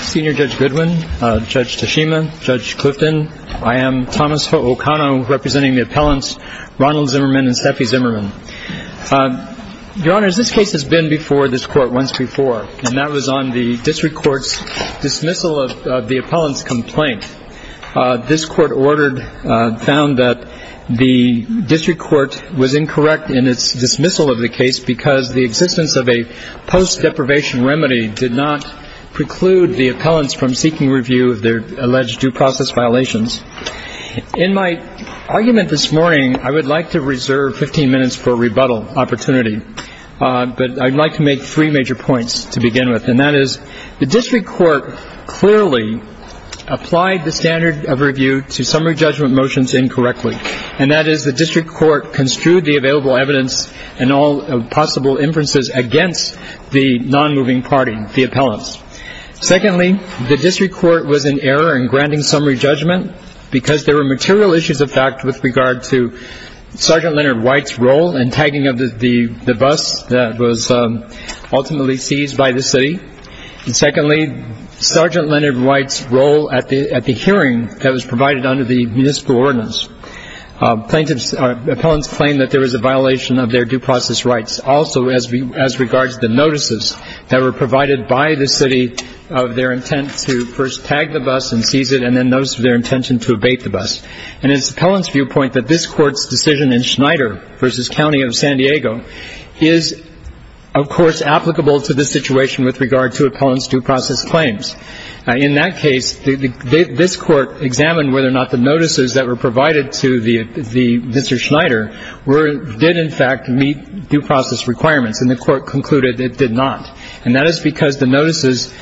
Senior Judge Goodwin, Judge Tashima, Judge Clifton, I am Thomas Okano, representing the appellants Ronald Zimmerman and Steffi Zimmerman. Your Honors, this case has been before this Court once before, and that was on the District Court's dismissal of the appellant's complaint. This Court ordered, found that the District Court was incorrect in its dismissal of the case because the existence of a post-deprivation remedy did not preclude the appellants from seeking review of their alleged due process violations. In my argument this morning, I would like to reserve 15 minutes for a rebuttal opportunity, but I'd like to make three major points to begin with, and that is the District Court clearly applied the standard of review to summary judgment motions incorrectly, and that is the District Court construed the available evidence and all possible inferences against the non-moving party, the appellants. Secondly, the District Court was in error in granting summary judgment because there were material issues of fact with regard to Sergeant Leonard White's role in tagging up the bus that was ultimately seized by the city. And secondly, Sergeant Leonard White's role at the hearing that was provided under the municipal ordinance. Appellants claimed that there was a violation of their due process rights also as regards to the notices that were provided by the city of their intent to first tag the bus and seize it, and then notice of their intention to abate the bus. And it's the appellant's viewpoint that this Court's decision in Schneider v. County of San Diego is, of course, applicable to the situation with regard to appellant's due process claims. In that case, this Court examined whether or not the notices that were provided to the Mr. Schneider did in fact meet due process requirements, and the Court concluded it did not. And that is because the notices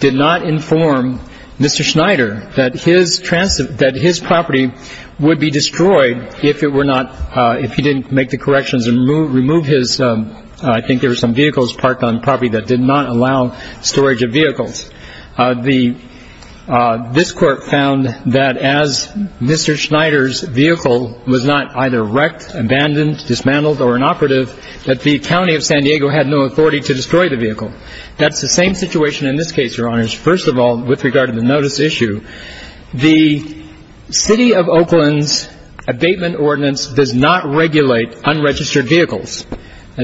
did not inform Mr. Schneider that his property would be destroyed if it were not, if he didn't make the corrections and remove his, I think there were some vehicles parked on the property that did not allow storage of vehicles. The, this Court found that as Mr. Schneider's vehicle was not either wrecked, abandoned, dismantled, or inoperative, that the County of San Diego had no authority to destroy the vehicle. That's the same situation in this case, Your Honors. First of all, with regard to the notice issue, the city of Oakland's unregistered vehicles,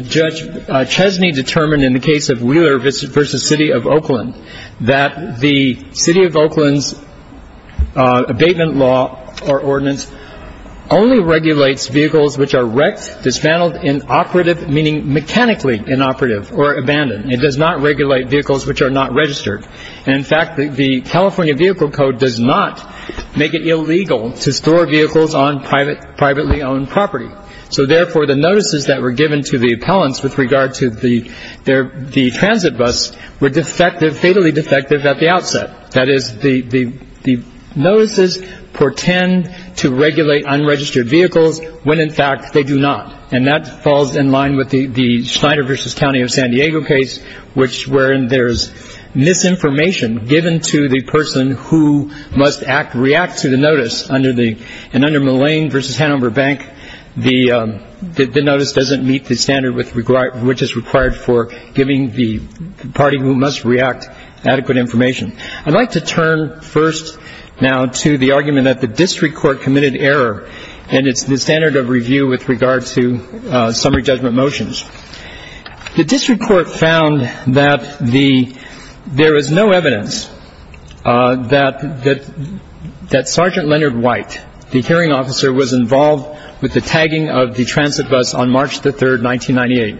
Judge Chesney determined in the case of Wheeler v. City of Oakland that the city of Oakland's abatement law or ordinance only regulates vehicles which are wrecked, dismantled, inoperative, meaning mechanically inoperative or abandoned. It does not regulate vehicles which are not registered. In fact, the California Vehicle Code does not make it illegal to store vehicles on privately owned property. So therefore, the notices that were given to the appellants with regard to the transit bus were defective, fatally defective at the outset. That is, the notices portend to regulate unregistered vehicles when in fact they do not. And that falls in line with the Schneider v. County of San Diego case, wherein there's misinformation given to the person who must react to the notice. And under Mullane v. Hanover Bank, the notice doesn't meet the standard which is required for giving the party who must react adequate information. I'd like to turn first now to the argument that the district court committed error, and it's the standard of review with regard to summary judgment motions. The district court found that there is no evidence that Sergeant Leonard White, the hearing officer, was involved with the tagging of the transit bus on March the 3rd, 1998.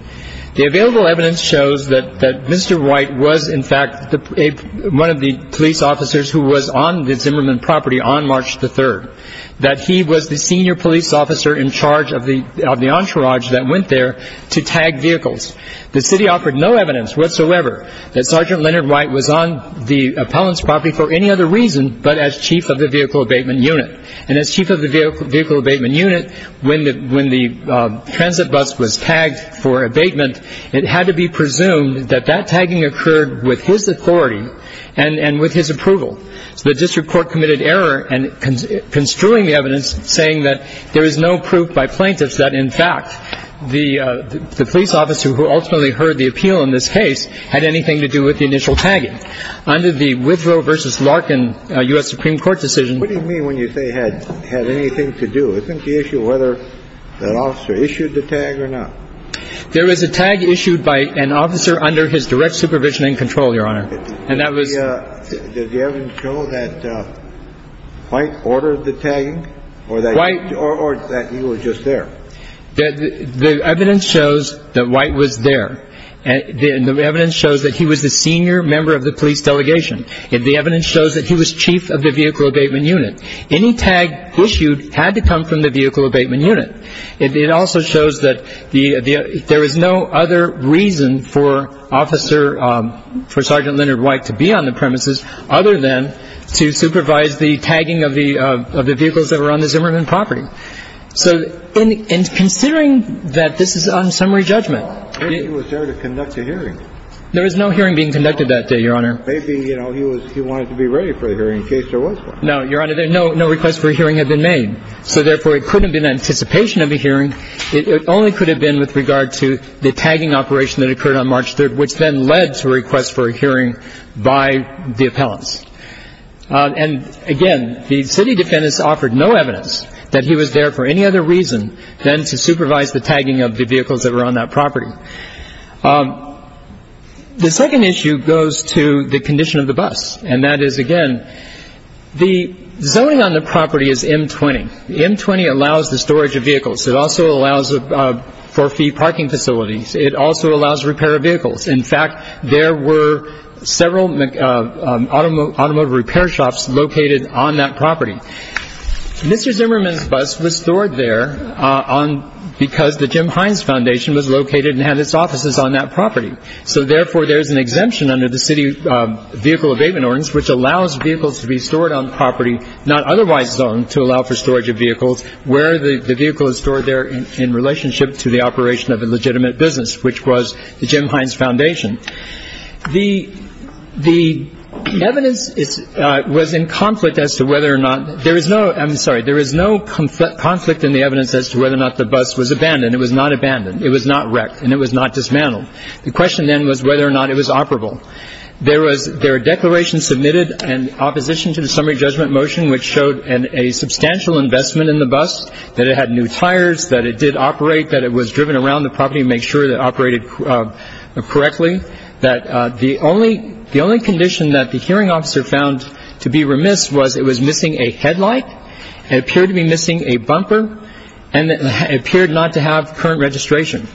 The available evidence shows that Mr. White was in fact one of the police officers who was on the Zimmerman property on March the 3rd, that he was the senior police officer in charge of the entourage that went there to tag vehicles. The city offered no evidence whatsoever that Sergeant Leonard White was on the appellant's property for any other reason but as chief of the vehicle abatement unit. And as chief of the vehicle abatement unit, when the transit bus was tagged for abatement, it had to be presumed that that tagging occurred with his authority and with his approval. So the district court committed error in construing the evidence saying that there is no proof by plaintiffs that, in fact, the police officer who ultimately heard the appeal in this case had anything to do with the initial tagging. Under the Withrow v. Larkin U.S. Supreme Court decision What do you mean when you say had anything to do? Isn't the issue whether that officer issued the tag or not? There was a tag issued by an officer under his direct supervision and control, Your Honor. And that was Did the evidence show that White ordered the tagging? Or that he was just there? The evidence shows that White was there. The evidence shows that he was the senior member of the police delegation. The evidence shows that he was chief of the vehicle abatement unit. Any tag issued had to come from the vehicle abatement unit. It also shows that the there was no other reason for officer for Sergeant Leonard White to be on the premises other than to supervise the tagging of the of the vehicles that were on the Zimmerman property. So in considering that this is on summary judgment, he was there to conduct a hearing. There was no hearing being conducted that day, Your Honor. Maybe, you know, he was he wanted to be ready for the hearing in case there was one. No, Your Honor, there no no request for a hearing had been made. So therefore, it couldn't be in anticipation of a hearing. It only could have been with regard to the tagging operation that occurred on March 3rd, which then led to a request for a hearing by the appellants. And again, the city defendants offered no evidence that he was there for any other reason than to supervise the tagging of the vehicles that were on that property. The second issue goes to the condition of the bus. And that is, again, the zoning on storage of vehicles. It also allows for free parking facilities. It also allows repair of vehicles. In fact, there were several automotive repair shops located on that property. Mr. Zimmerman's bus was stored there on because the Jim Hines Foundation was located and had its offices on that property. So therefore, there's an exemption under the city vehicle abatement ordinance, which allows vehicles to be stored on property not otherwise zoned to allow for storage of vehicles where the vehicle is stored there in relationship to the operation of a legitimate business, which was the Jim Hines Foundation. The the evidence is was in conflict as to whether or not there is no I'm sorry, there is no conflict in the evidence as to whether or not the bus was abandoned. It was not abandoned. It was not wrecked and it was not dismantled. The question then was whether or not it was operable. There was their declaration submitted and opposition to the summary judgment motion, which showed a substantial investment in the bus, that it had new tires, that it did operate, that it was driven around the property to make sure that it operated correctly, that the only the only condition that the hearing officer found to be remiss was it was missing a headlight, it appeared to be missing a bumper, and it appeared not to have current registration.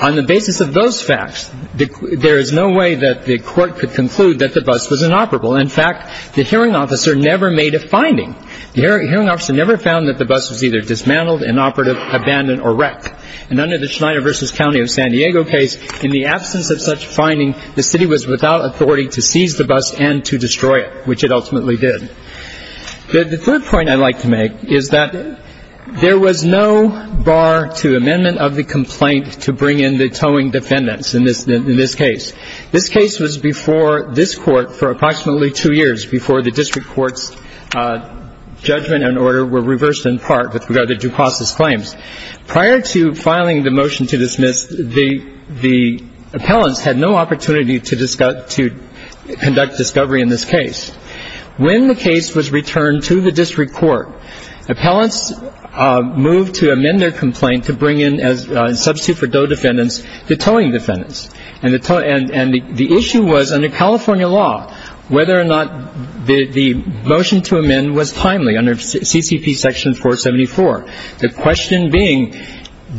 On the basis of those facts, there is no way that the court could conclude that the bus was inoperable. In fact, the hearing officer never made a finding. The hearing officer never found that the bus was either dismantled, inoperative, abandoned, or wrecked. And under the Schneider v. County of San Diego case, in the absence of such finding, the city was without authority to seize the bus and to destroy it, which it ultimately did. The third point I'd like to make is that there was no bar to amendment of the complaint to bring in the towing defendants in this case. This case was before this court for approximately two years before the district court's judgment and order were reversed in part with regard to due process claims. Prior to filing the motion to dismiss, the appellants had no opportunity to conduct discovery in this case. When the case was returned to the district court, appellants moved to amend their complaint to bring in, in substitute for tow defendants, the towing defendants. And the issue was, under California law, whether or not the motion to amend was timely under CCP section 474. The question being,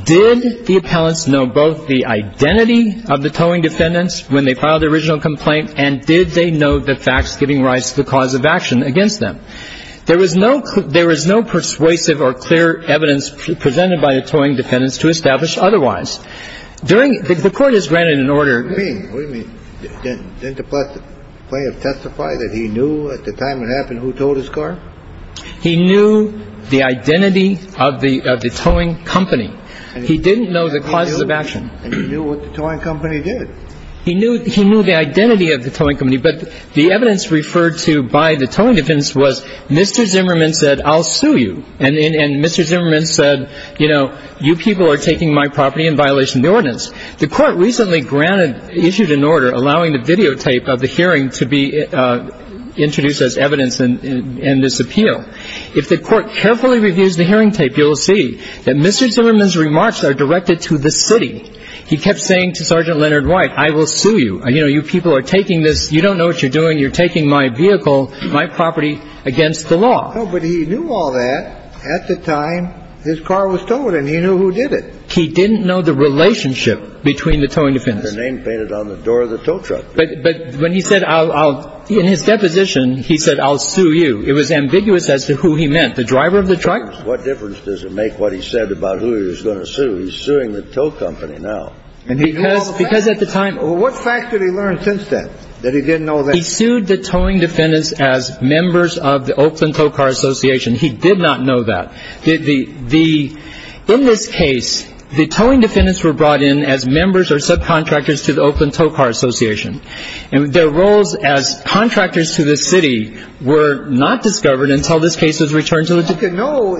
did the appellants know both the identity of the towing defendants when they filed the original complaint, and did they know the facts giving rise to the cause of action against them? There was no persuasive or clear evidence presented by the towing defendants to establish otherwise. During the court has granted an order. What do you mean? Didn't the plaintiff testify that he knew at the time it happened who towed his car? He knew the identity of the towing company. He didn't know the causes of action. And he knew what the towing company did. He knew the identity of the towing company, but the evidence referred to by the towing defendants was, Mr. Zimmerman said, I'll sue you. And Mr. Zimmerman said, you know, you people are taking my property in violation of the ordinance. The court recently granted, issued an order allowing the videotape of the hearing to be introduced as evidence in this appeal. If the court carefully reviews the hearing tape, you'll see that Mr. Zimmerman's remarks are directed to the city. He kept saying to Sergeant Leonard White, I will sue you. You know, you people are taking this, you don't know what you're doing, you're taking my property against the law. But he knew all that at the time his car was towed and he knew who did it. He didn't know the relationship between the towing defendants. Their name painted on the door of the tow truck. But when he said I'll, in his deposition, he said, I'll sue you. It was ambiguous as to who he meant, the driver of the truck? What difference does it make what he said about who he was going to sue? He's suing the tow company now. Because at the time. What fact did he learn since then that he didn't know that? He sued the towing defendants as members of the Oakland Tow Car Association. He did not know that the the in this case, the towing defendants were brought in as members or subcontractors to the Oakland Tow Car Association. And their roles as contractors to the city were not discovered until this case was returned to the. You know,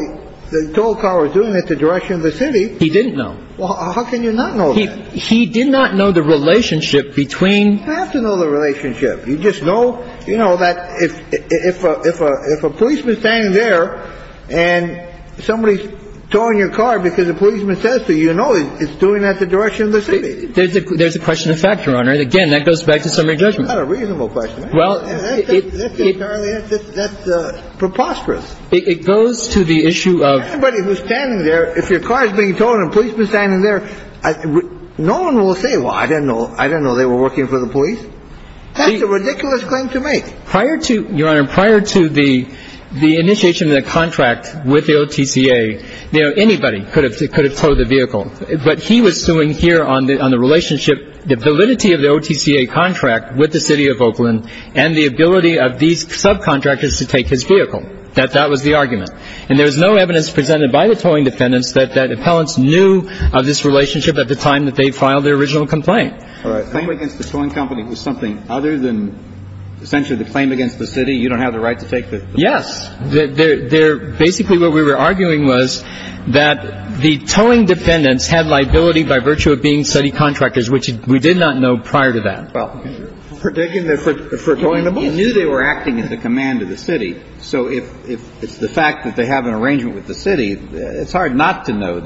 the tow car was doing it the direction of the city. He didn't know. How can you not know? He did not know the relationship between. You have to know the relationship. You just know. You know that if a policeman standing there and somebody's towing your car because a policeman says to you, you know it's doing that the direction of the city. There's a question of fact, Your Honor. Again, that goes back to summary judgment. That's not a reasonable question. Well, it. That's preposterous. It goes to the issue of. Anybody who's standing there, if your car is being towed and a policeman is standing there, no one will say, well, I didn't know. Well, they were working for the police. That's a ridiculous claim to make. Prior to, Your Honor, prior to the initiation of the contract with the OTCA, you know, anybody could have could have towed the vehicle. But he was suing here on the on the relationship, the validity of the OTCA contract with the city of Oakland and the ability of these subcontractors to take his vehicle, that that was the argument. And there was no evidence presented by the towing defendants that that appellants knew of this relationship at the time that they filed their original complaint. All right. The claim against the towing company was something other than essentially the claim against the city. You don't have the right to take the. Yes. They're basically what we were arguing was that the towing defendants had liability by virtue of being city contractors, which we did not know prior to that. Well, you're predicting they're for towing the bus? You knew they were acting at the command of the city. So if it's the fact that they have an arrangement with the city, it's hard not to know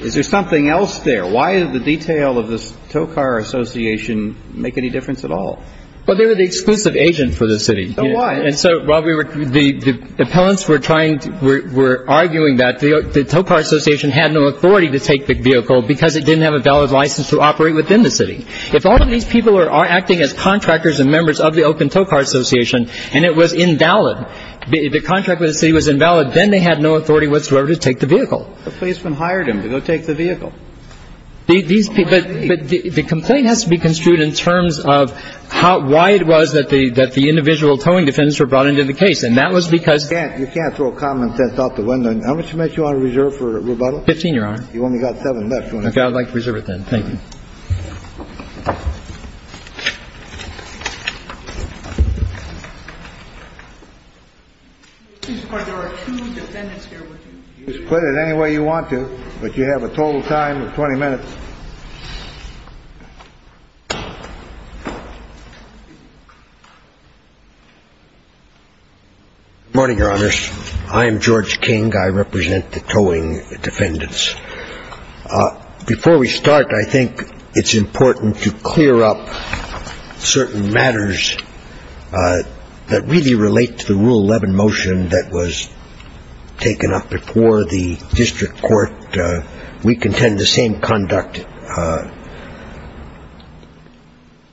Is there something else there? No. Why is the detail of this tow car association make any difference at all? Well, they were the exclusive agent for the city. Why? And so while we were the appellants were trying to we're arguing that the tow car association had no authority to take the vehicle because it didn't have a valid license to operate within the city. If all of these people are acting as contractors and members of the Oakland Tow Car Association and it was invalid, the contract with the city was invalid. Then they had no authority whatsoever to take the vehicle. The policeman hired him to go take the vehicle. But the complaint has to be construed in terms of how why it was that the individual towing defendants were brought into the case. And that was because You can't throw common sense out the window. How much money do you want to reserve for rebuttal? Fifteen, Your Honor. You've only got seven left. I'd like to reserve it then. There are two defendants here with you. You can split it any way you want to, but you have a total time of 20 minutes. Morning, Your Honors. I am George King. I represent the towing defendants. Before we start, I think it's important to clear up certain matters that really relate to the Rule 11 motion that was taken up before the district court. We contend the same conduct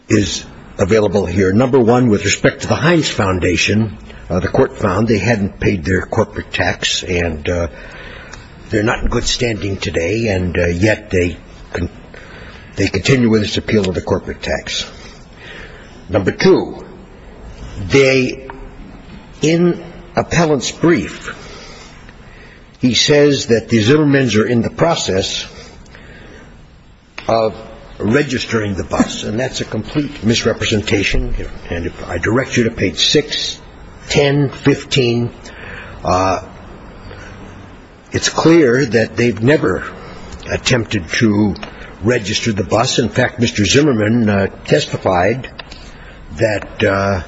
is available here. Number one, with respect to the Heinz Foundation, the court found they hadn't paid their corporate tax and they're not in good standing today, and yet they continue with this appeal of the corporate tax. Number two, in appellant's brief, he says that the Zimmermans are in the process of registering the bus, and that's a complete misrepresentation. And if I direct you to page 6, 10, 15, it's clear that they've never attempted to register the bus. In fact, Mr. Zimmerman testified that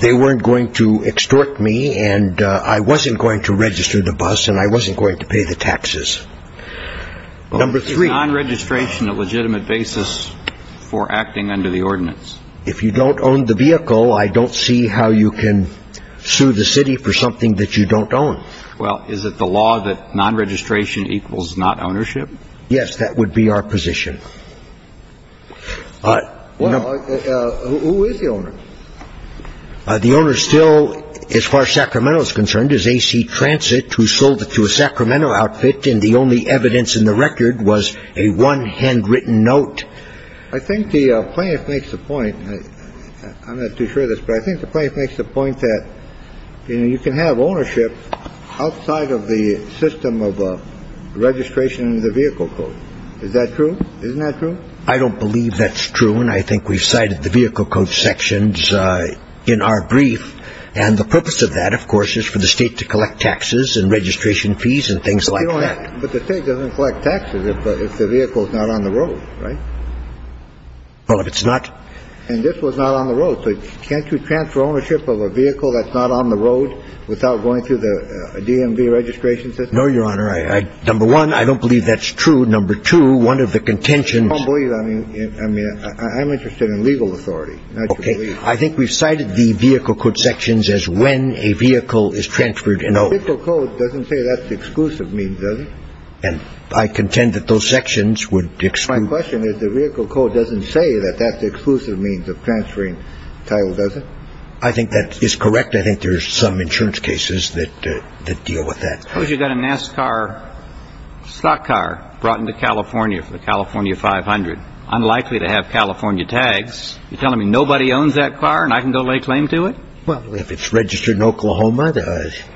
they weren't going to extort me and I wasn't going to register the bus and I wasn't going to pay the taxes. Number three. Is non-registration a legitimate basis for acting under the ordinance? If you don't own the vehicle, I don't see how you can sue the city for something that you don't own. Well, is it the law that non-registration equals not ownership? Yes, that would be our position. Well, who is the owner? The owner still, as far as Sacramento is concerned, is AC Transit, who sold it to a Sacramento outfit, and the only evidence in the record was a one handwritten note. I think the plaintiff makes the point. I'm not too sure of this, but I think the plaintiff makes the point that, you know, you can have ownership outside of the system of registration of the vehicle code. Is that true? Isn't that true? I don't believe that's true. And I think we've cited the vehicle code sections in our brief. And the purpose of that, of course, is for the state to collect taxes and registration fees and things like that. But the state doesn't collect taxes if the vehicle is not on the road, right? Well, if it's not. And this was not on the road. So can't you transfer ownership of a vehicle that's not on the road without going through the DMV registration system? No, Your Honor. Number one, I don't believe that's true. Number two, one of the contentions. I don't believe that. I mean, I'm interested in legal authority. Okay. I think we've cited the vehicle code sections as when a vehicle is transferred. The vehicle code doesn't say that's the exclusive means, does it? And I contend that those sections would exclude. My question is the vehicle code doesn't say that that's the exclusive means of transferring title, does it? I think that is correct. I think there's some insurance cases that deal with that. Suppose you've got a NASCAR stock car brought into California for the California 500. Unlikely to have California tags. You're telling me nobody owns that car and I can go lay claim to it? Well, if it's registered in Oklahoma.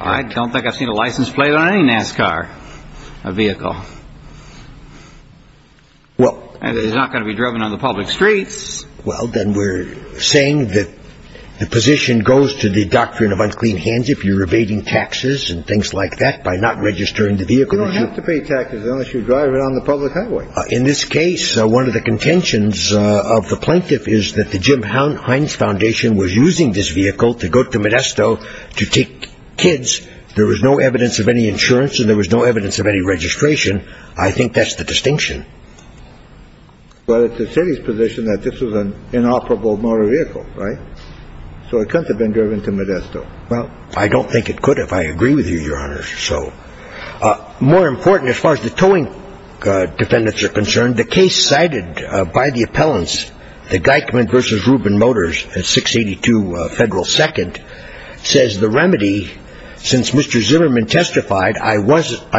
I don't think I've seen a license plate on any NASCAR vehicle. Well. And it's not going to be driven on the public streets. Well, then we're saying that the position goes to the doctrine of unclean hands if you're evading taxes and things like that by not registering the vehicle. You don't have to pay taxes unless you drive it on the public highway. In this case, one of the contentions of the plaintiff is that the Jim Hines Foundation was using this vehicle to go to Modesto to take kids. There was no evidence of any insurance and there was no evidence of any registration. I think that's the distinction. Well, it's the city's position that this was an inoperable motor vehicle. Right. So it could have been driven to Modesto. Well, I don't think it could, if I agree with you, Your Honor. So more important, as far as the towing defendants are concerned, the case cited by the appellants, the Geichmann versus Rubin Motors at 682 Federal Second, says the remedy, since Mr. Zimmerman testified, I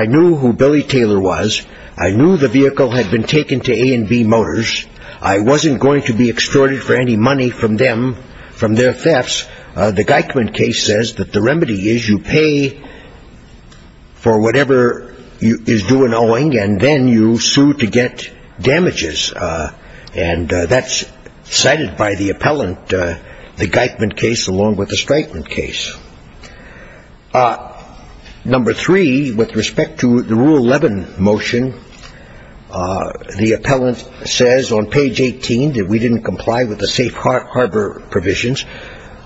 knew who Billy Taylor was. I knew the vehicle had been taken to A&B Motors. I wasn't going to be extorted for any money from them, from their thefts. The Geichmann case says that the remedy is you pay for whatever is due in owing and then you sue to get damages. And that's cited by the appellant, the Geichmann case, along with the Strykman case. Number three, with respect to the Rule 11 motion, the appellant says on page 18 that we didn't comply with the safe harbor provisions.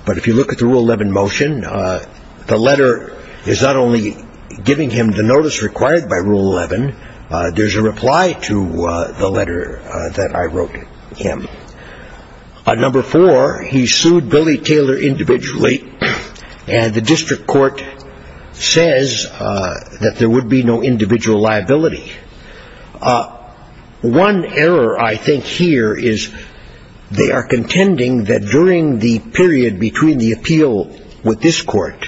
But if you look at the Rule 11 motion, the letter is not only giving him the notice required by Rule 11. There's a reply to the letter that I wrote him. Number four, he sued Billy Taylor individually. And the district court says that there would be no individual liability. One error I think here is they are contending that during the period between the appeal with this court,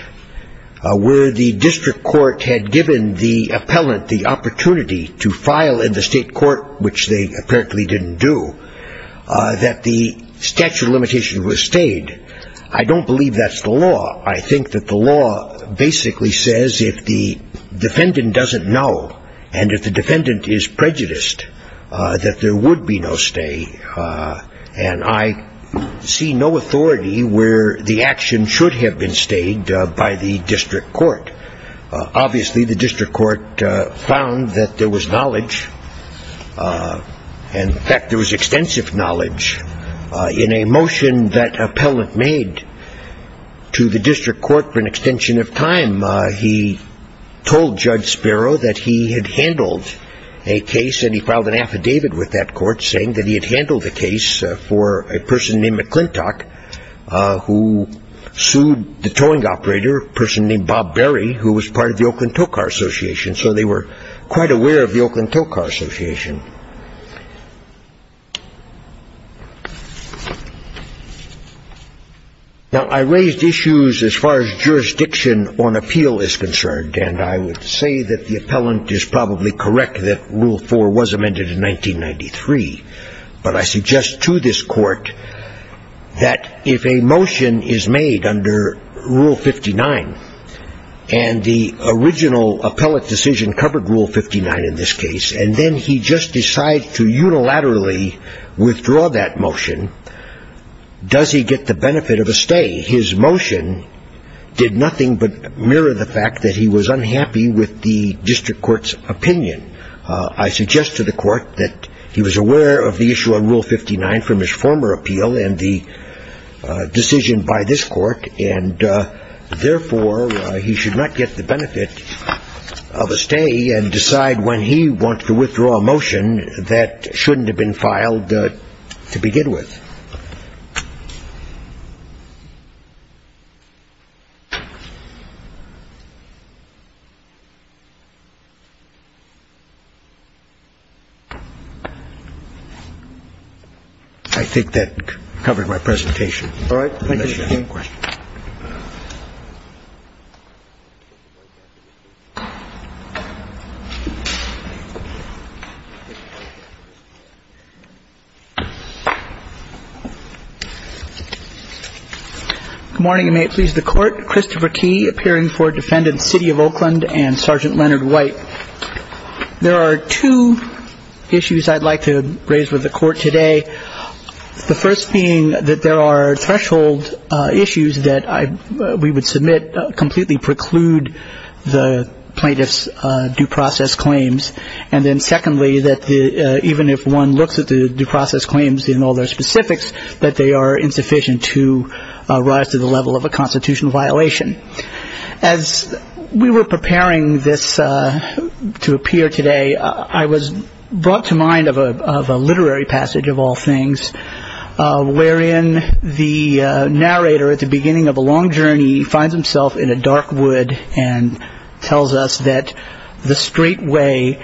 where the district court had given the appellant the opportunity to file in the state court, which they apparently didn't do, that the statute of limitations was stayed. I don't believe that's the law. I think that the law basically says if the defendant doesn't know and if the defendant is prejudiced, that there would be no stay. And I see no authority where the action should have been stayed by the district court. Obviously, the district court found that there was knowledge. In fact, there was extensive knowledge in a motion that appellant made to the district court for an extension of time. He told Judge Sparrow that he had handled a case, and he filed an affidavit with that court saying that he had handled the case for a person named McClintock, who sued the towing operator, a person named Bob Berry, who was part of the Oakland Tow Car Association. So they were quite aware of the Oakland Tow Car Association. Now, I raised issues as far as jurisdiction on appeal is concerned, and I would say that the appellant is probably correct that Rule 4 was amended in 1993. But I suggest to this court that if a motion is made under Rule 59, and the original appellate decision covered Rule 59 in this case, and then he just decides to unilaterally withdraw that motion, does he get the benefit of a stay? His motion did nothing but mirror the fact that he was unhappy with the district court's opinion. I suggest to the court that he was aware of the issue on Rule 59 from his former appeal and the decision by this court, and therefore, he should not get the benefit of a stay and decide when he wants to withdraw a motion that shouldn't have been filed to begin with. I think that covered my presentation. All right. Good morning, and may it please the Court. Christopher T., appearing for Defendant, City of Oakland, and Sergeant Leonard White. There are two issues I'd like to raise with the Court today, the first being that there are threshold issues that we would submit completely preclude the plaintiff's due process claims, and then secondly, that even if one looks at the due process claims in all their specifics, that they are insufficient to rise to the level of a constitutional violation. As we were preparing this to appear today, I was brought to mind of a literary passage, of all things, wherein the narrator at the beginning of a long journey finds himself in a dark wood and tells us that the straight way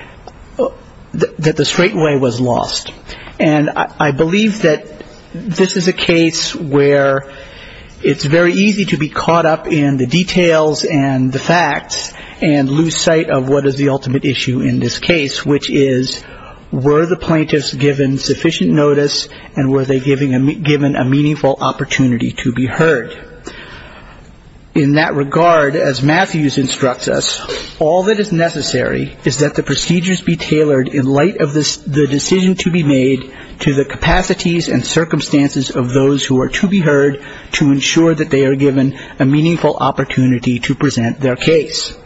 was lost. And I believe that this is a case where it's very easy to be caught up in the details and the facts and lose sight of what is the ultimate issue in this case, which is were the plaintiffs given sufficient notice and were they given a meaningful opportunity to be heard. In that regard, as Matthews instructs us, all that is necessary is that the procedures be tailored in light of the decision to be made to the capacities and circumstances of those who are to be heard to ensure that they are given a meaningful opportunity to present their case.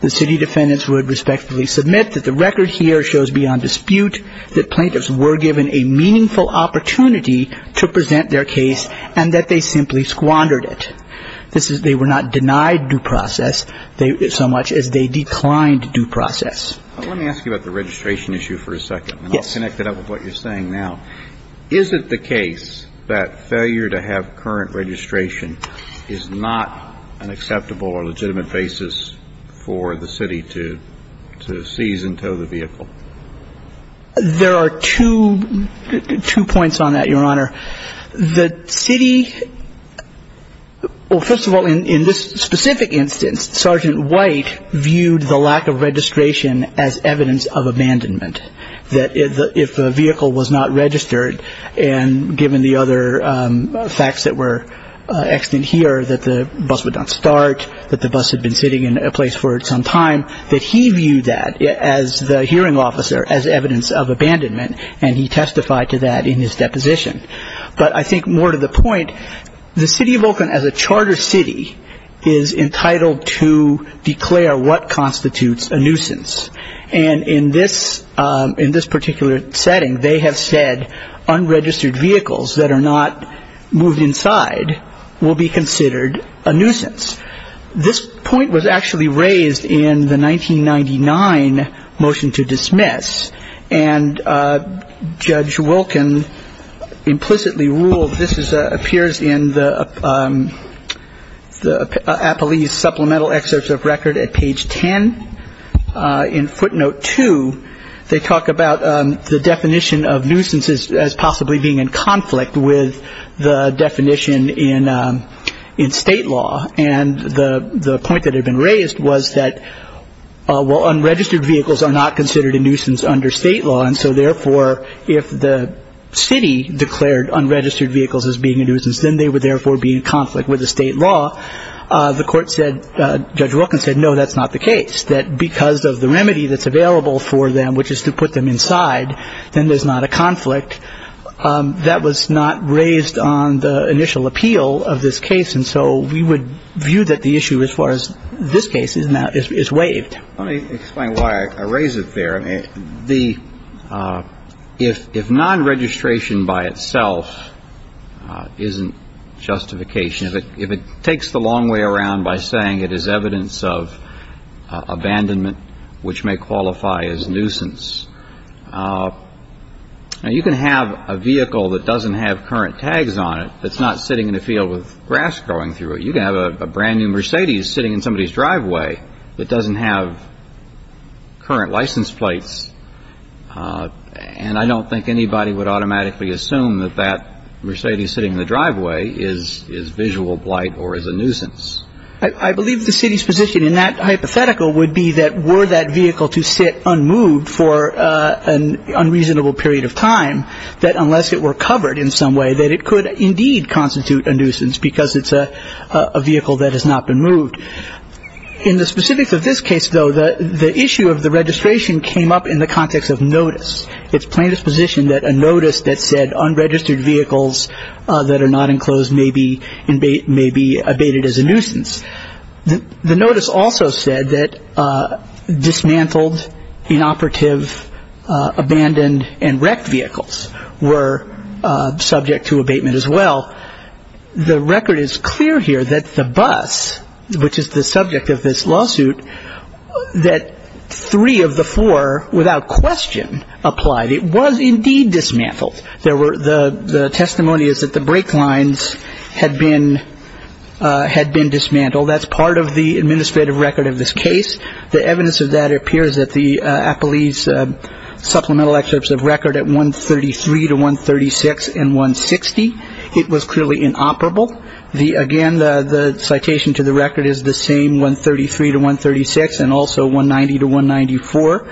The city defendants would respectively submit that the record here shows beyond dispute that plaintiffs were given a meaningful opportunity to present their case and that they simply squandered it. They were not denied due process so much as they declined due process. Let me ask you about the registration issue for a second. Yes. And I'll connect it up with what you're saying now. Is it the case that failure to have current registration is not an acceptable or legitimate basis for the city to seize and tow the vehicle? There are two points on that, Your Honor. The city, well, first of all, in this specific instance, Sergeant White viewed the lack of registration as evidence of abandonment, that if the vehicle was not registered and given the other facts that were extant here, that the bus would not start, that the bus had been sitting in a place for some time, that he viewed that as the hearing officer as evidence of abandonment, and he testified to that in his deposition. But I think more to the point, the city of Oakland, as a charter city, is entitled to declare what constitutes a nuisance. And in this particular setting, they have said unregistered vehicles that are not moved inside will be considered a nuisance. This point was actually raised in the 1999 motion to dismiss, and Judge Wilkin implicitly ruled this appears in the Appellee's supplemental excerpts of record at page 10. In footnote 2, they talk about the definition of nuisances as possibly being in conflict with the definition in state law. And the point that had been raised was that, well, unregistered vehicles are not considered a nuisance under state law, and so therefore if the city declared unregistered vehicles as being a nuisance, then they would therefore be in conflict with the state law. The court said, Judge Wilkin said, no, that's not the case, that because of the remedy that's available for them, which is to put them inside, then there's not a conflict. That was not raised on the initial appeal of this case, and so we would view that the issue as far as this case is now is waived. Let me explain why I raise it there. If nonregistration by itself isn't justification, if it takes the long way around by saying it is evidence of abandonment which may qualify as nuisance, you can have a vehicle that doesn't have current tags on it that's not sitting in a field with grass growing through it. You can have a brand-new Mercedes sitting in somebody's driveway that doesn't have current license plates, and I don't think anybody would automatically assume that that Mercedes sitting in the driveway is visual blight or is a nuisance. I believe the city's position in that hypothetical would be that were that vehicle to sit unmoved for an unreasonable period of time, that unless it were covered in some way, that it could indeed constitute a nuisance because it's a vehicle that has not been moved. In the specifics of this case, though, the issue of the registration came up in the context of notice. It's plain disposition that a notice that said unregistered vehicles that are not enclosed may be abated as a nuisance. The notice also said that dismantled, inoperative, abandoned, and wrecked vehicles were subject to abatement as well. The record is clear here that the bus, which is the subject of this lawsuit, that three of the four without question applied. It was indeed dismantled. The testimony is that the brake lines had been dismantled. That's part of the administrative record of this case. The evidence of that appears at the Appellee's supplemental excerpts of record at 133 to 136 and 160. It was clearly inoperable. Again, the citation to the record is the same, 133 to 136, and also 190 to 194.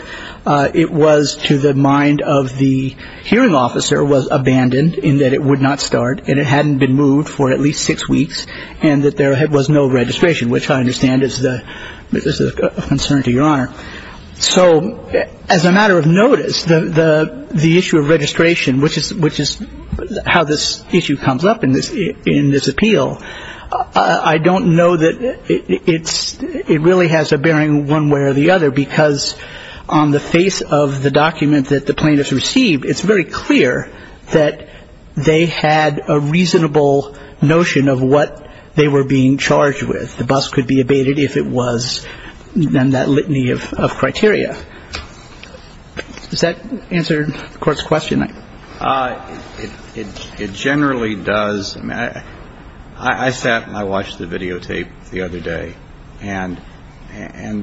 It was to the mind of the hearing officer was abandoned in that it would not start and it hadn't been moved for at least six weeks and that there was no registration, which I understand is a concern to Your Honor. So as a matter of notice, the issue of registration, which is how this issue comes up in this appeal, I don't know that it really has a bearing one way or the other because on the face of the document that the plaintiffs received, it's very clear that they had a reasonable notion of what they were being charged with. The bus could be abated if it was in that litany of criteria. Does that answer the Court's question? It generally does. I sat and I watched the videotape the other day, and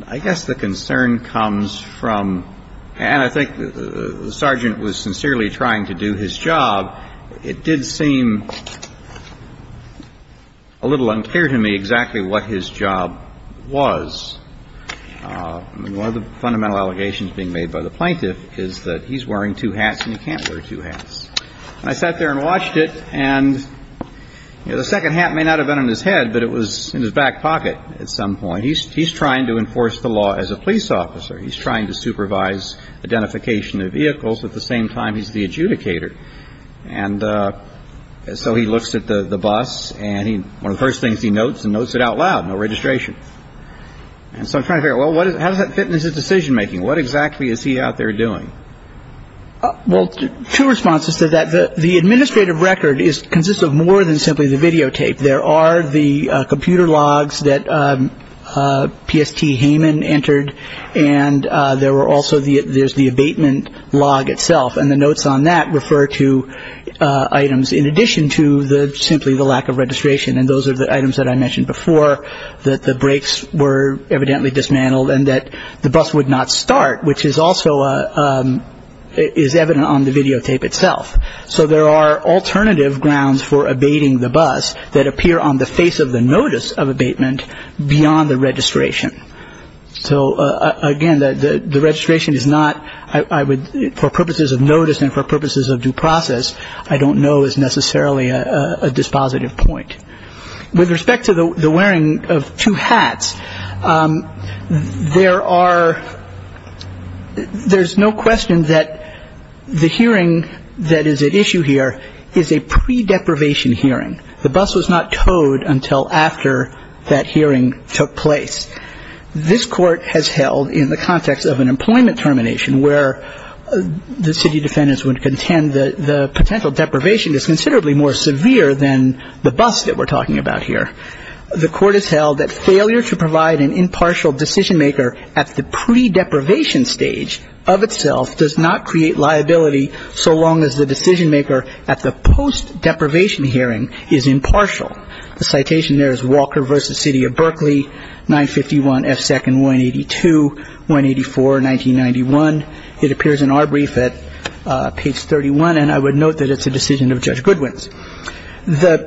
I guess the concern comes from and I think the sergeant was sincerely trying to do his job. It did seem a little unclear to me exactly what his job was. One of the fundamental allegations being made by the plaintiff is that he's wearing two hats and he can't wear two hats. And I sat there and watched it, and the second hat may not have been on his head, but it was in his back pocket at some point. He's trying to enforce the law as a police officer. He's trying to supervise identification of vehicles at the same time he's the adjudicator. And so he looks at the bus, and one of the first things he notes, he notes it out loud, no registration. And so I'm trying to figure out, well, how does that fit into his decision-making? What exactly is he out there doing? Well, two responses to that. The administrative record consists of more than simply the videotape. There are the computer logs that PST Hayman entered, and there's the abatement log itself, and the notes on that refer to items in addition to simply the lack of registration. And those are the items that I mentioned before, that the brakes were evidently dismantled and that the bus would not start, which is also evident on the videotape itself. So there are alternative grounds for abating the bus that appear on the face of the notice of abatement beyond the registration. So, again, the registration is not, for purposes of notice and for purposes of due process, I don't know is necessarily a dispositive point. With respect to the wearing of two hats, there are no questions that the hearing that is at issue here is a pre-deprivation hearing. The bus was not towed until after that hearing took place. This Court has held in the context of an employment termination where the city defendants would contend that the potential deprivation is considerably more severe than the bus that we're talking about here. The Court has held that failure to provide an impartial decision-maker at the pre-deprivation stage of itself does not create liability so long as the decision-maker at the post-deprivation hearing is impartial. The citation there is Walker v. City of Berkeley, 951 F. Second 182, 184, 1991. It appears in our brief at page 31, and I would note that it's a decision of Judge Goodwin's.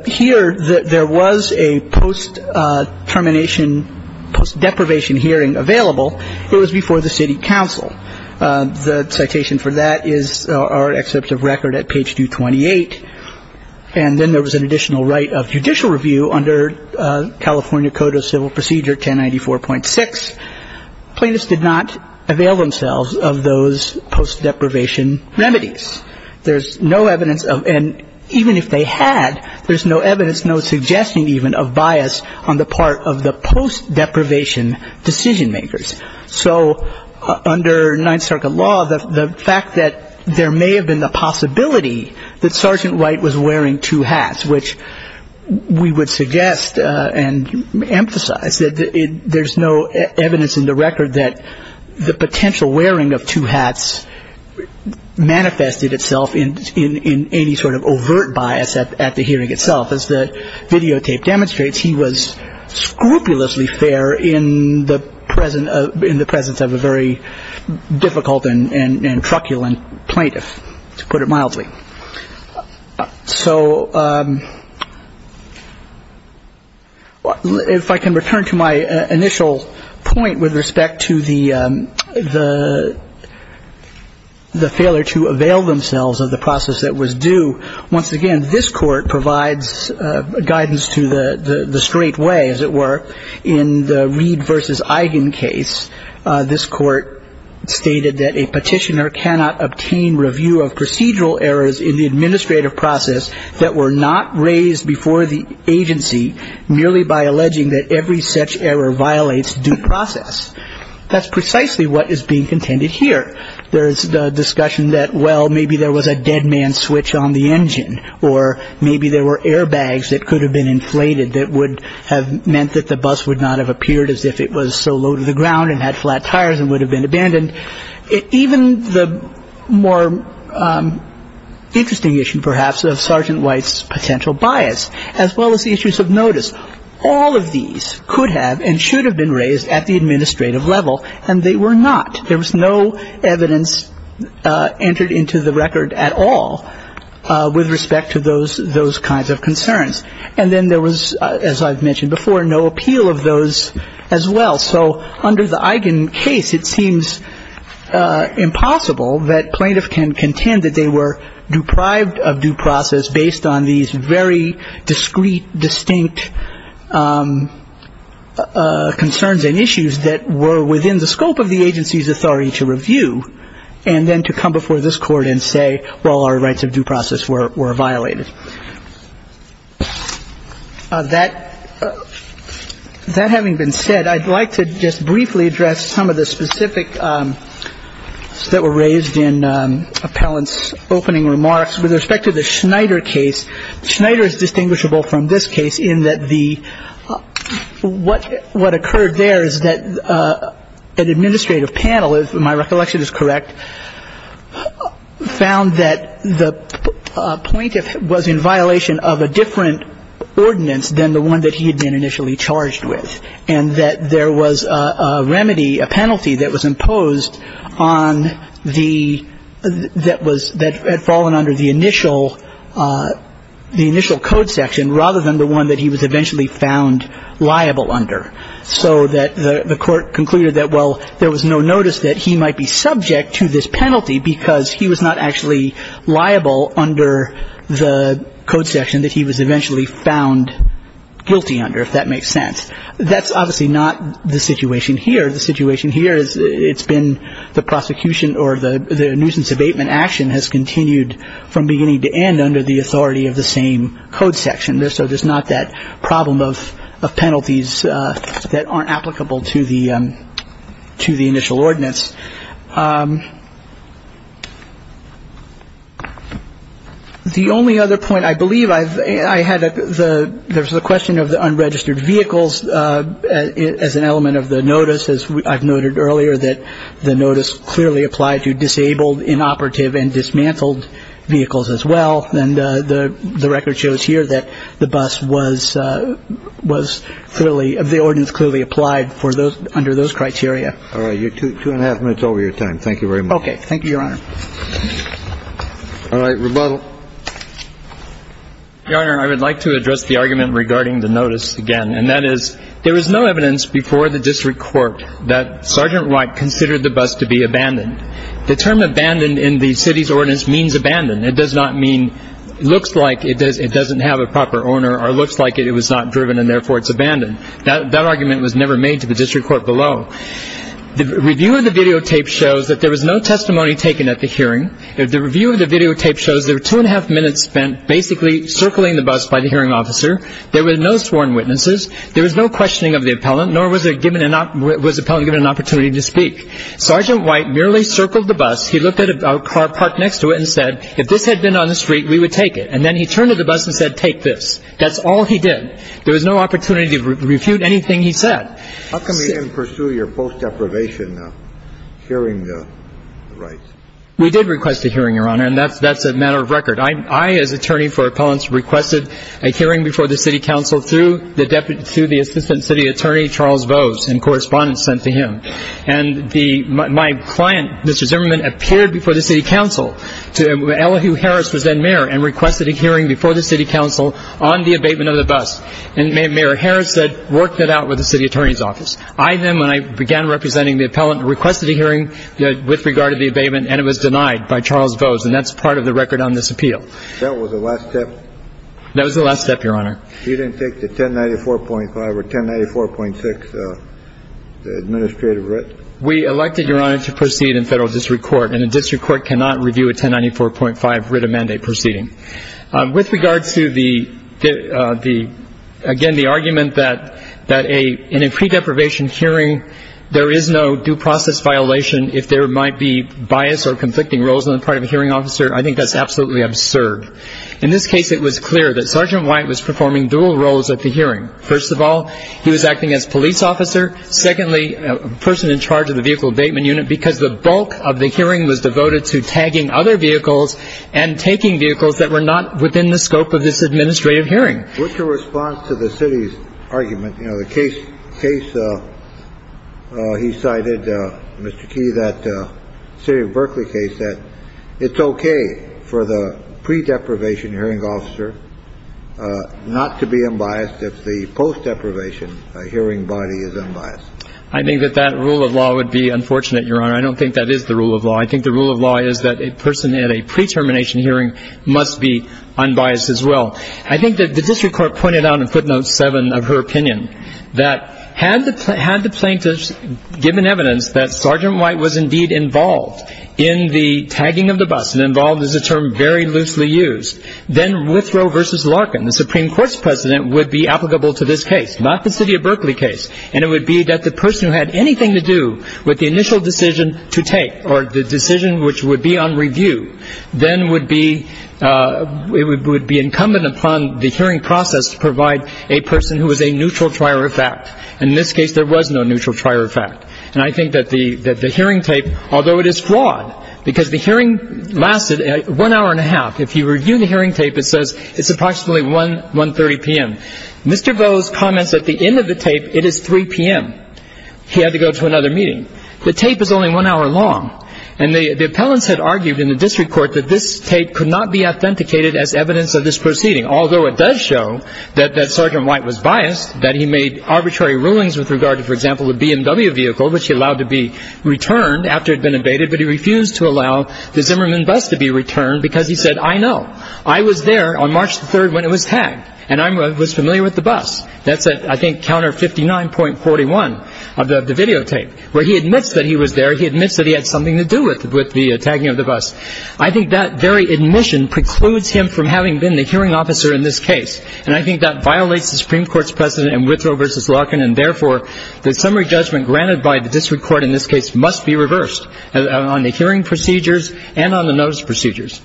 Here, there was a post-termination, post-deprivation hearing available. It was before the city council. The citation for that is our excerpt of record at page 228. And then there was an additional right of judicial review under California Code of Civil Procedure 1094.6. Plaintiffs did not avail themselves of those post-deprivation remedies. There's no evidence of, and even if they had, there's no evidence, no suggestion even, of bias on the part of the post-deprivation decision-makers. So under Ninth Circuit law, the fact that there may have been the possibility that Sergeant Wright was wearing two hats, which we would suggest and emphasize, that there's no evidence in the record that the potential wearing of two hats manifested itself in any sort of overt bias at the hearing itself. As the videotape demonstrates, he was scrupulously fair in the presence of a very difficult and truculent plaintiff, to put it mildly. So if I can return to my initial point with respect to the failure to avail themselves of the process that was due, once again, this court provides guidance to the straight way, as it were, in the Reed v. Eigen case. This court stated that a petitioner cannot obtain review of procedural errors in the administrative process that were not raised before the agency merely by alleging that every such error violates due process. That's precisely what is being contended here. There is the discussion that, well, maybe there was a dead man's switch on the engine, or maybe there were airbags that could have been inflated that would have meant that the bus would not have appeared as if it was so low to the ground and had flat tires and would have been abandoned. Even the more interesting issue, perhaps, of Sergeant Wright's potential bias, as well as the issues of notice, all of these could have and should have been raised at the administrative level, and they were not. There was no evidence entered into the record at all with respect to those kinds of concerns. And then there was, as I've mentioned before, no appeal of those as well. So under the Eigen case, it seems impossible that plaintiffs can contend that they were deprived of due process based on these very discreet, distinct concerns and issues that were within the scope of the agency's authority to review and then to come before this Court and say, well, our rights of due process were violated. That having been said, I'd like to just briefly address some of the specific concerns that were raised in Appellant's opening remarks with respect to the Schneider case. Schneider is distinguishable from this case in that what occurred there is that an administrative panel, if my recollection is correct, found that the plaintiff was in violation of a different ordinance than the one that he had been initially charged with and that there was a remedy, a penalty that was imposed on the – that was – that had fallen under the initial – the initial code section rather than the one that he was eventually found liable under. So that the Court concluded that, well, there was no notice that he might be subject to this penalty because he was not actually liable under the code section that he was eventually found guilty under, if that makes sense. That's obviously not the situation here. The situation here is it's been the prosecution or the nuisance abatement action has continued from beginning to end under the authority of the same code section. So there's not that problem of penalties that aren't applicable to the – to the initial ordinance. The only other point I believe I've – I had the – there was a question of the unregistered vehicles as an element of the notice. As I've noted earlier that the notice clearly applied to disabled, inoperative, and dismantled vehicles as well. And the record shows here that the bus was fairly – the ordinance clearly applied for those – under those criteria. All right. You're two and a half minutes over your time. Thank you very much. Okay. Thank you, Your Honor. All right. Rebuttal. Your Honor, I would like to address the argument regarding the notice again. And that is there was no evidence before the district court that Sergeant Wright considered the bus to be abandoned. The term abandoned in the city's ordinance means abandoned. It does not mean – looks like it doesn't have a proper owner or looks like it was not driven and therefore it's abandoned. That argument was never made to the district court below. The review of the videotape shows that there was no testimony taken at the hearing. The review of the videotape shows there were two and a half minutes spent basically circling the bus by the hearing officer. There were no sworn witnesses. There was no questioning of the appellant, nor was it given an – was the appellant given an opportunity to speak. Sergeant Wright merely circled the bus. He looked at a car parked next to it and said, if this had been on the street, we would take it. And then he turned to the bus and said, take this. That's all he did. There was no opportunity to refute anything he said. How come you didn't pursue your post-deprivation hearing rights? We did request a hearing, Your Honor, and that's a matter of record. I, as attorney for appellants, requested a hearing before the city council through the deputy – through the assistant city attorney, Charles Vose, and correspondence sent to him. And the – my client, Mr. Zimmerman, appeared before the city council to – Elihu Harris was then mayor and requested a hearing before the city council on the abatement of the bus. And Mayor Harris said, worked it out with the city attorney's office. I then, when I began representing the appellant, requested a hearing with regard to the abatement, and it was denied by Charles Vose, and that's part of the record on this appeal. That was the last step? That was the last step, Your Honor. You didn't take the 1094.5 or 1094.6 administrative writ? We elected, Your Honor, to proceed in federal district court, and a district court cannot review a 1094.5 writ of mandate proceeding. With regard to the – again, the argument that in a pre-deprivation hearing, there is no due process violation if there might be bias or conflicting roles on the part of a hearing officer, I think that's absolutely absurd. In this case, it was clear that Sergeant White was performing dual roles at the hearing. First of all, he was acting as police officer. Secondly, a person in charge of the vehicle abatement unit, because the bulk of the hearing was devoted to tagging other vehicles and taking vehicles that were not within the scope of this administrative hearing. What's your response to the city's argument? You know, the case he cited, Mr. Key, that – the city of Berkeley case, that it's okay for the pre-deprivation hearing officer not to be unbiased if the post-deprivation hearing body is unbiased. I think that that rule of law would be unfortunate, Your Honor. I don't think that is the rule of law. I think the rule of law is that a person at a pre-termination hearing must be unbiased as well. I think that the district court pointed out in footnote 7 of her opinion that had the plaintiffs given evidence that Sergeant White was indeed involved in the tagging of the bus, and involved is a term very loosely used, then Withrow v. Larkin, the Supreme Court's president, would be applicable to this case, not the city of Berkeley case. And it would be that the person who had anything to do with the initial decision to take or the decision which would be on review then would be – would be incumbent upon the hearing process to provide a person who was a neutral trier of fact. And in this case, there was no neutral trier of fact. And I think that the hearing tape, although it is flawed, because the hearing lasted one hour and a half. If you review the hearing tape, it says it's approximately 1.30 p.m. Mr. Vo's comments at the end of the tape, it is 3 p.m. He had to go to another meeting. The tape is only one hour long. And the appellants had argued in the district court that this tape could not be authenticated as evidence of this proceeding, although it does show that Sergeant White was biased, that he made arbitrary rulings with regard to, for example, the BMW vehicle, which he allowed to be returned after it had been abated, but he refused to allow the Zimmerman bus to be returned because he said, I know. I was there on March the 3rd when it was tagged, and I was familiar with the bus. That's at, I think, counter 59.41 of the videotape, where he admits that he was there. He admits that he had something to do with the tagging of the bus. I think that very admission precludes him from having been the hearing officer in this case, and I think that violates the Supreme Court's precedent in Withrow v. Larkin, and therefore the summary judgment granted by the district court in this case must be reversed on the hearing procedures and on the notice procedures.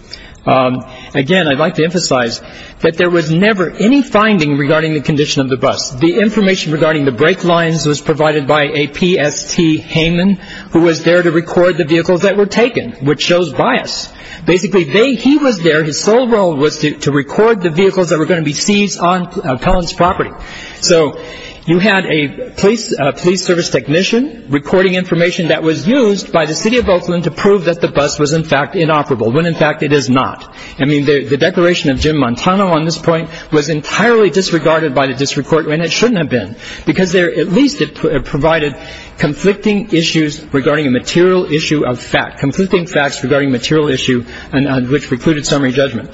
Again, I'd like to emphasize that there was never any finding regarding the condition of the bus. The information regarding the brake lines was provided by a PST hangman who was there to record the vehicles that were taken, which shows bias. Basically, he was there. His sole role was to record the vehicles that were going to be seized on Cullen's property. So you had a police service technician recording information that was used by the city of Oakland to prove that the bus was, in fact, inoperable, when, in fact, it is not. I mean, the declaration of Jim Montano on this point was entirely disregarded by the district court, and it shouldn't have been, because at least it provided conflicting issues regarding a material issue of fact, conflicting facts regarding a material issue on which precluded summary judgment.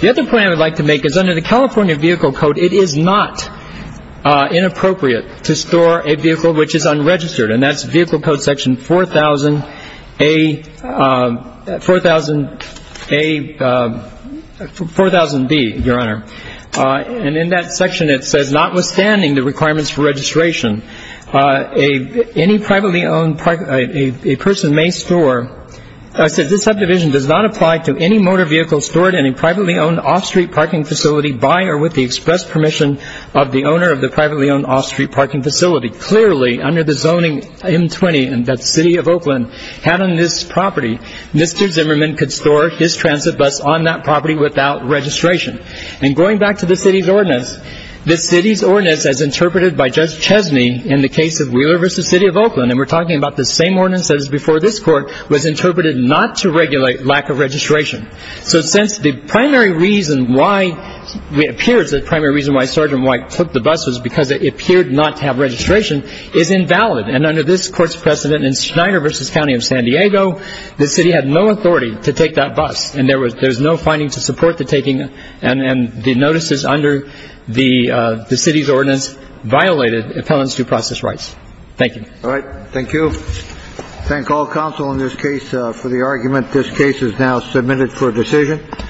The other point I would like to make is under the California Vehicle Code, it is not inappropriate to store a vehicle which is unregistered, and that's Vehicle Code section 4000A, 4000A, 4000B, Your Honor. And in that section, it says, notwithstanding the requirements for registration, any privately owned person may store. I said this subdivision does not apply to any motor vehicle stored in a privately owned off-street parking facility by or with the express permission of the owner of the privately owned off-street parking facility. Clearly, under the zoning M-20 that the city of Oakland had on this property, Mr. Zimmerman could store his transit bus on that property without registration. And going back to the city's ordinance, the city's ordinance, as interpreted by Judge Chesney in the case of Wheeler v. City of Oakland, and we're talking about the same ordinance that was before this Court, was interpreted not to regulate lack of registration. So since the primary reason why it appears the primary reason why Sergeant White took the bus was because it appeared not to have registration, is invalid. And under this Court's precedent in Schneider v. County of San Diego, the city had no authority to take that bus, and there was no finding to support the taking. And the notices under the city's ordinance violated appellants' due process rights. Thank you. All right. Thank you. Thank all counsel in this case for the argument. This case is now submitted for decision.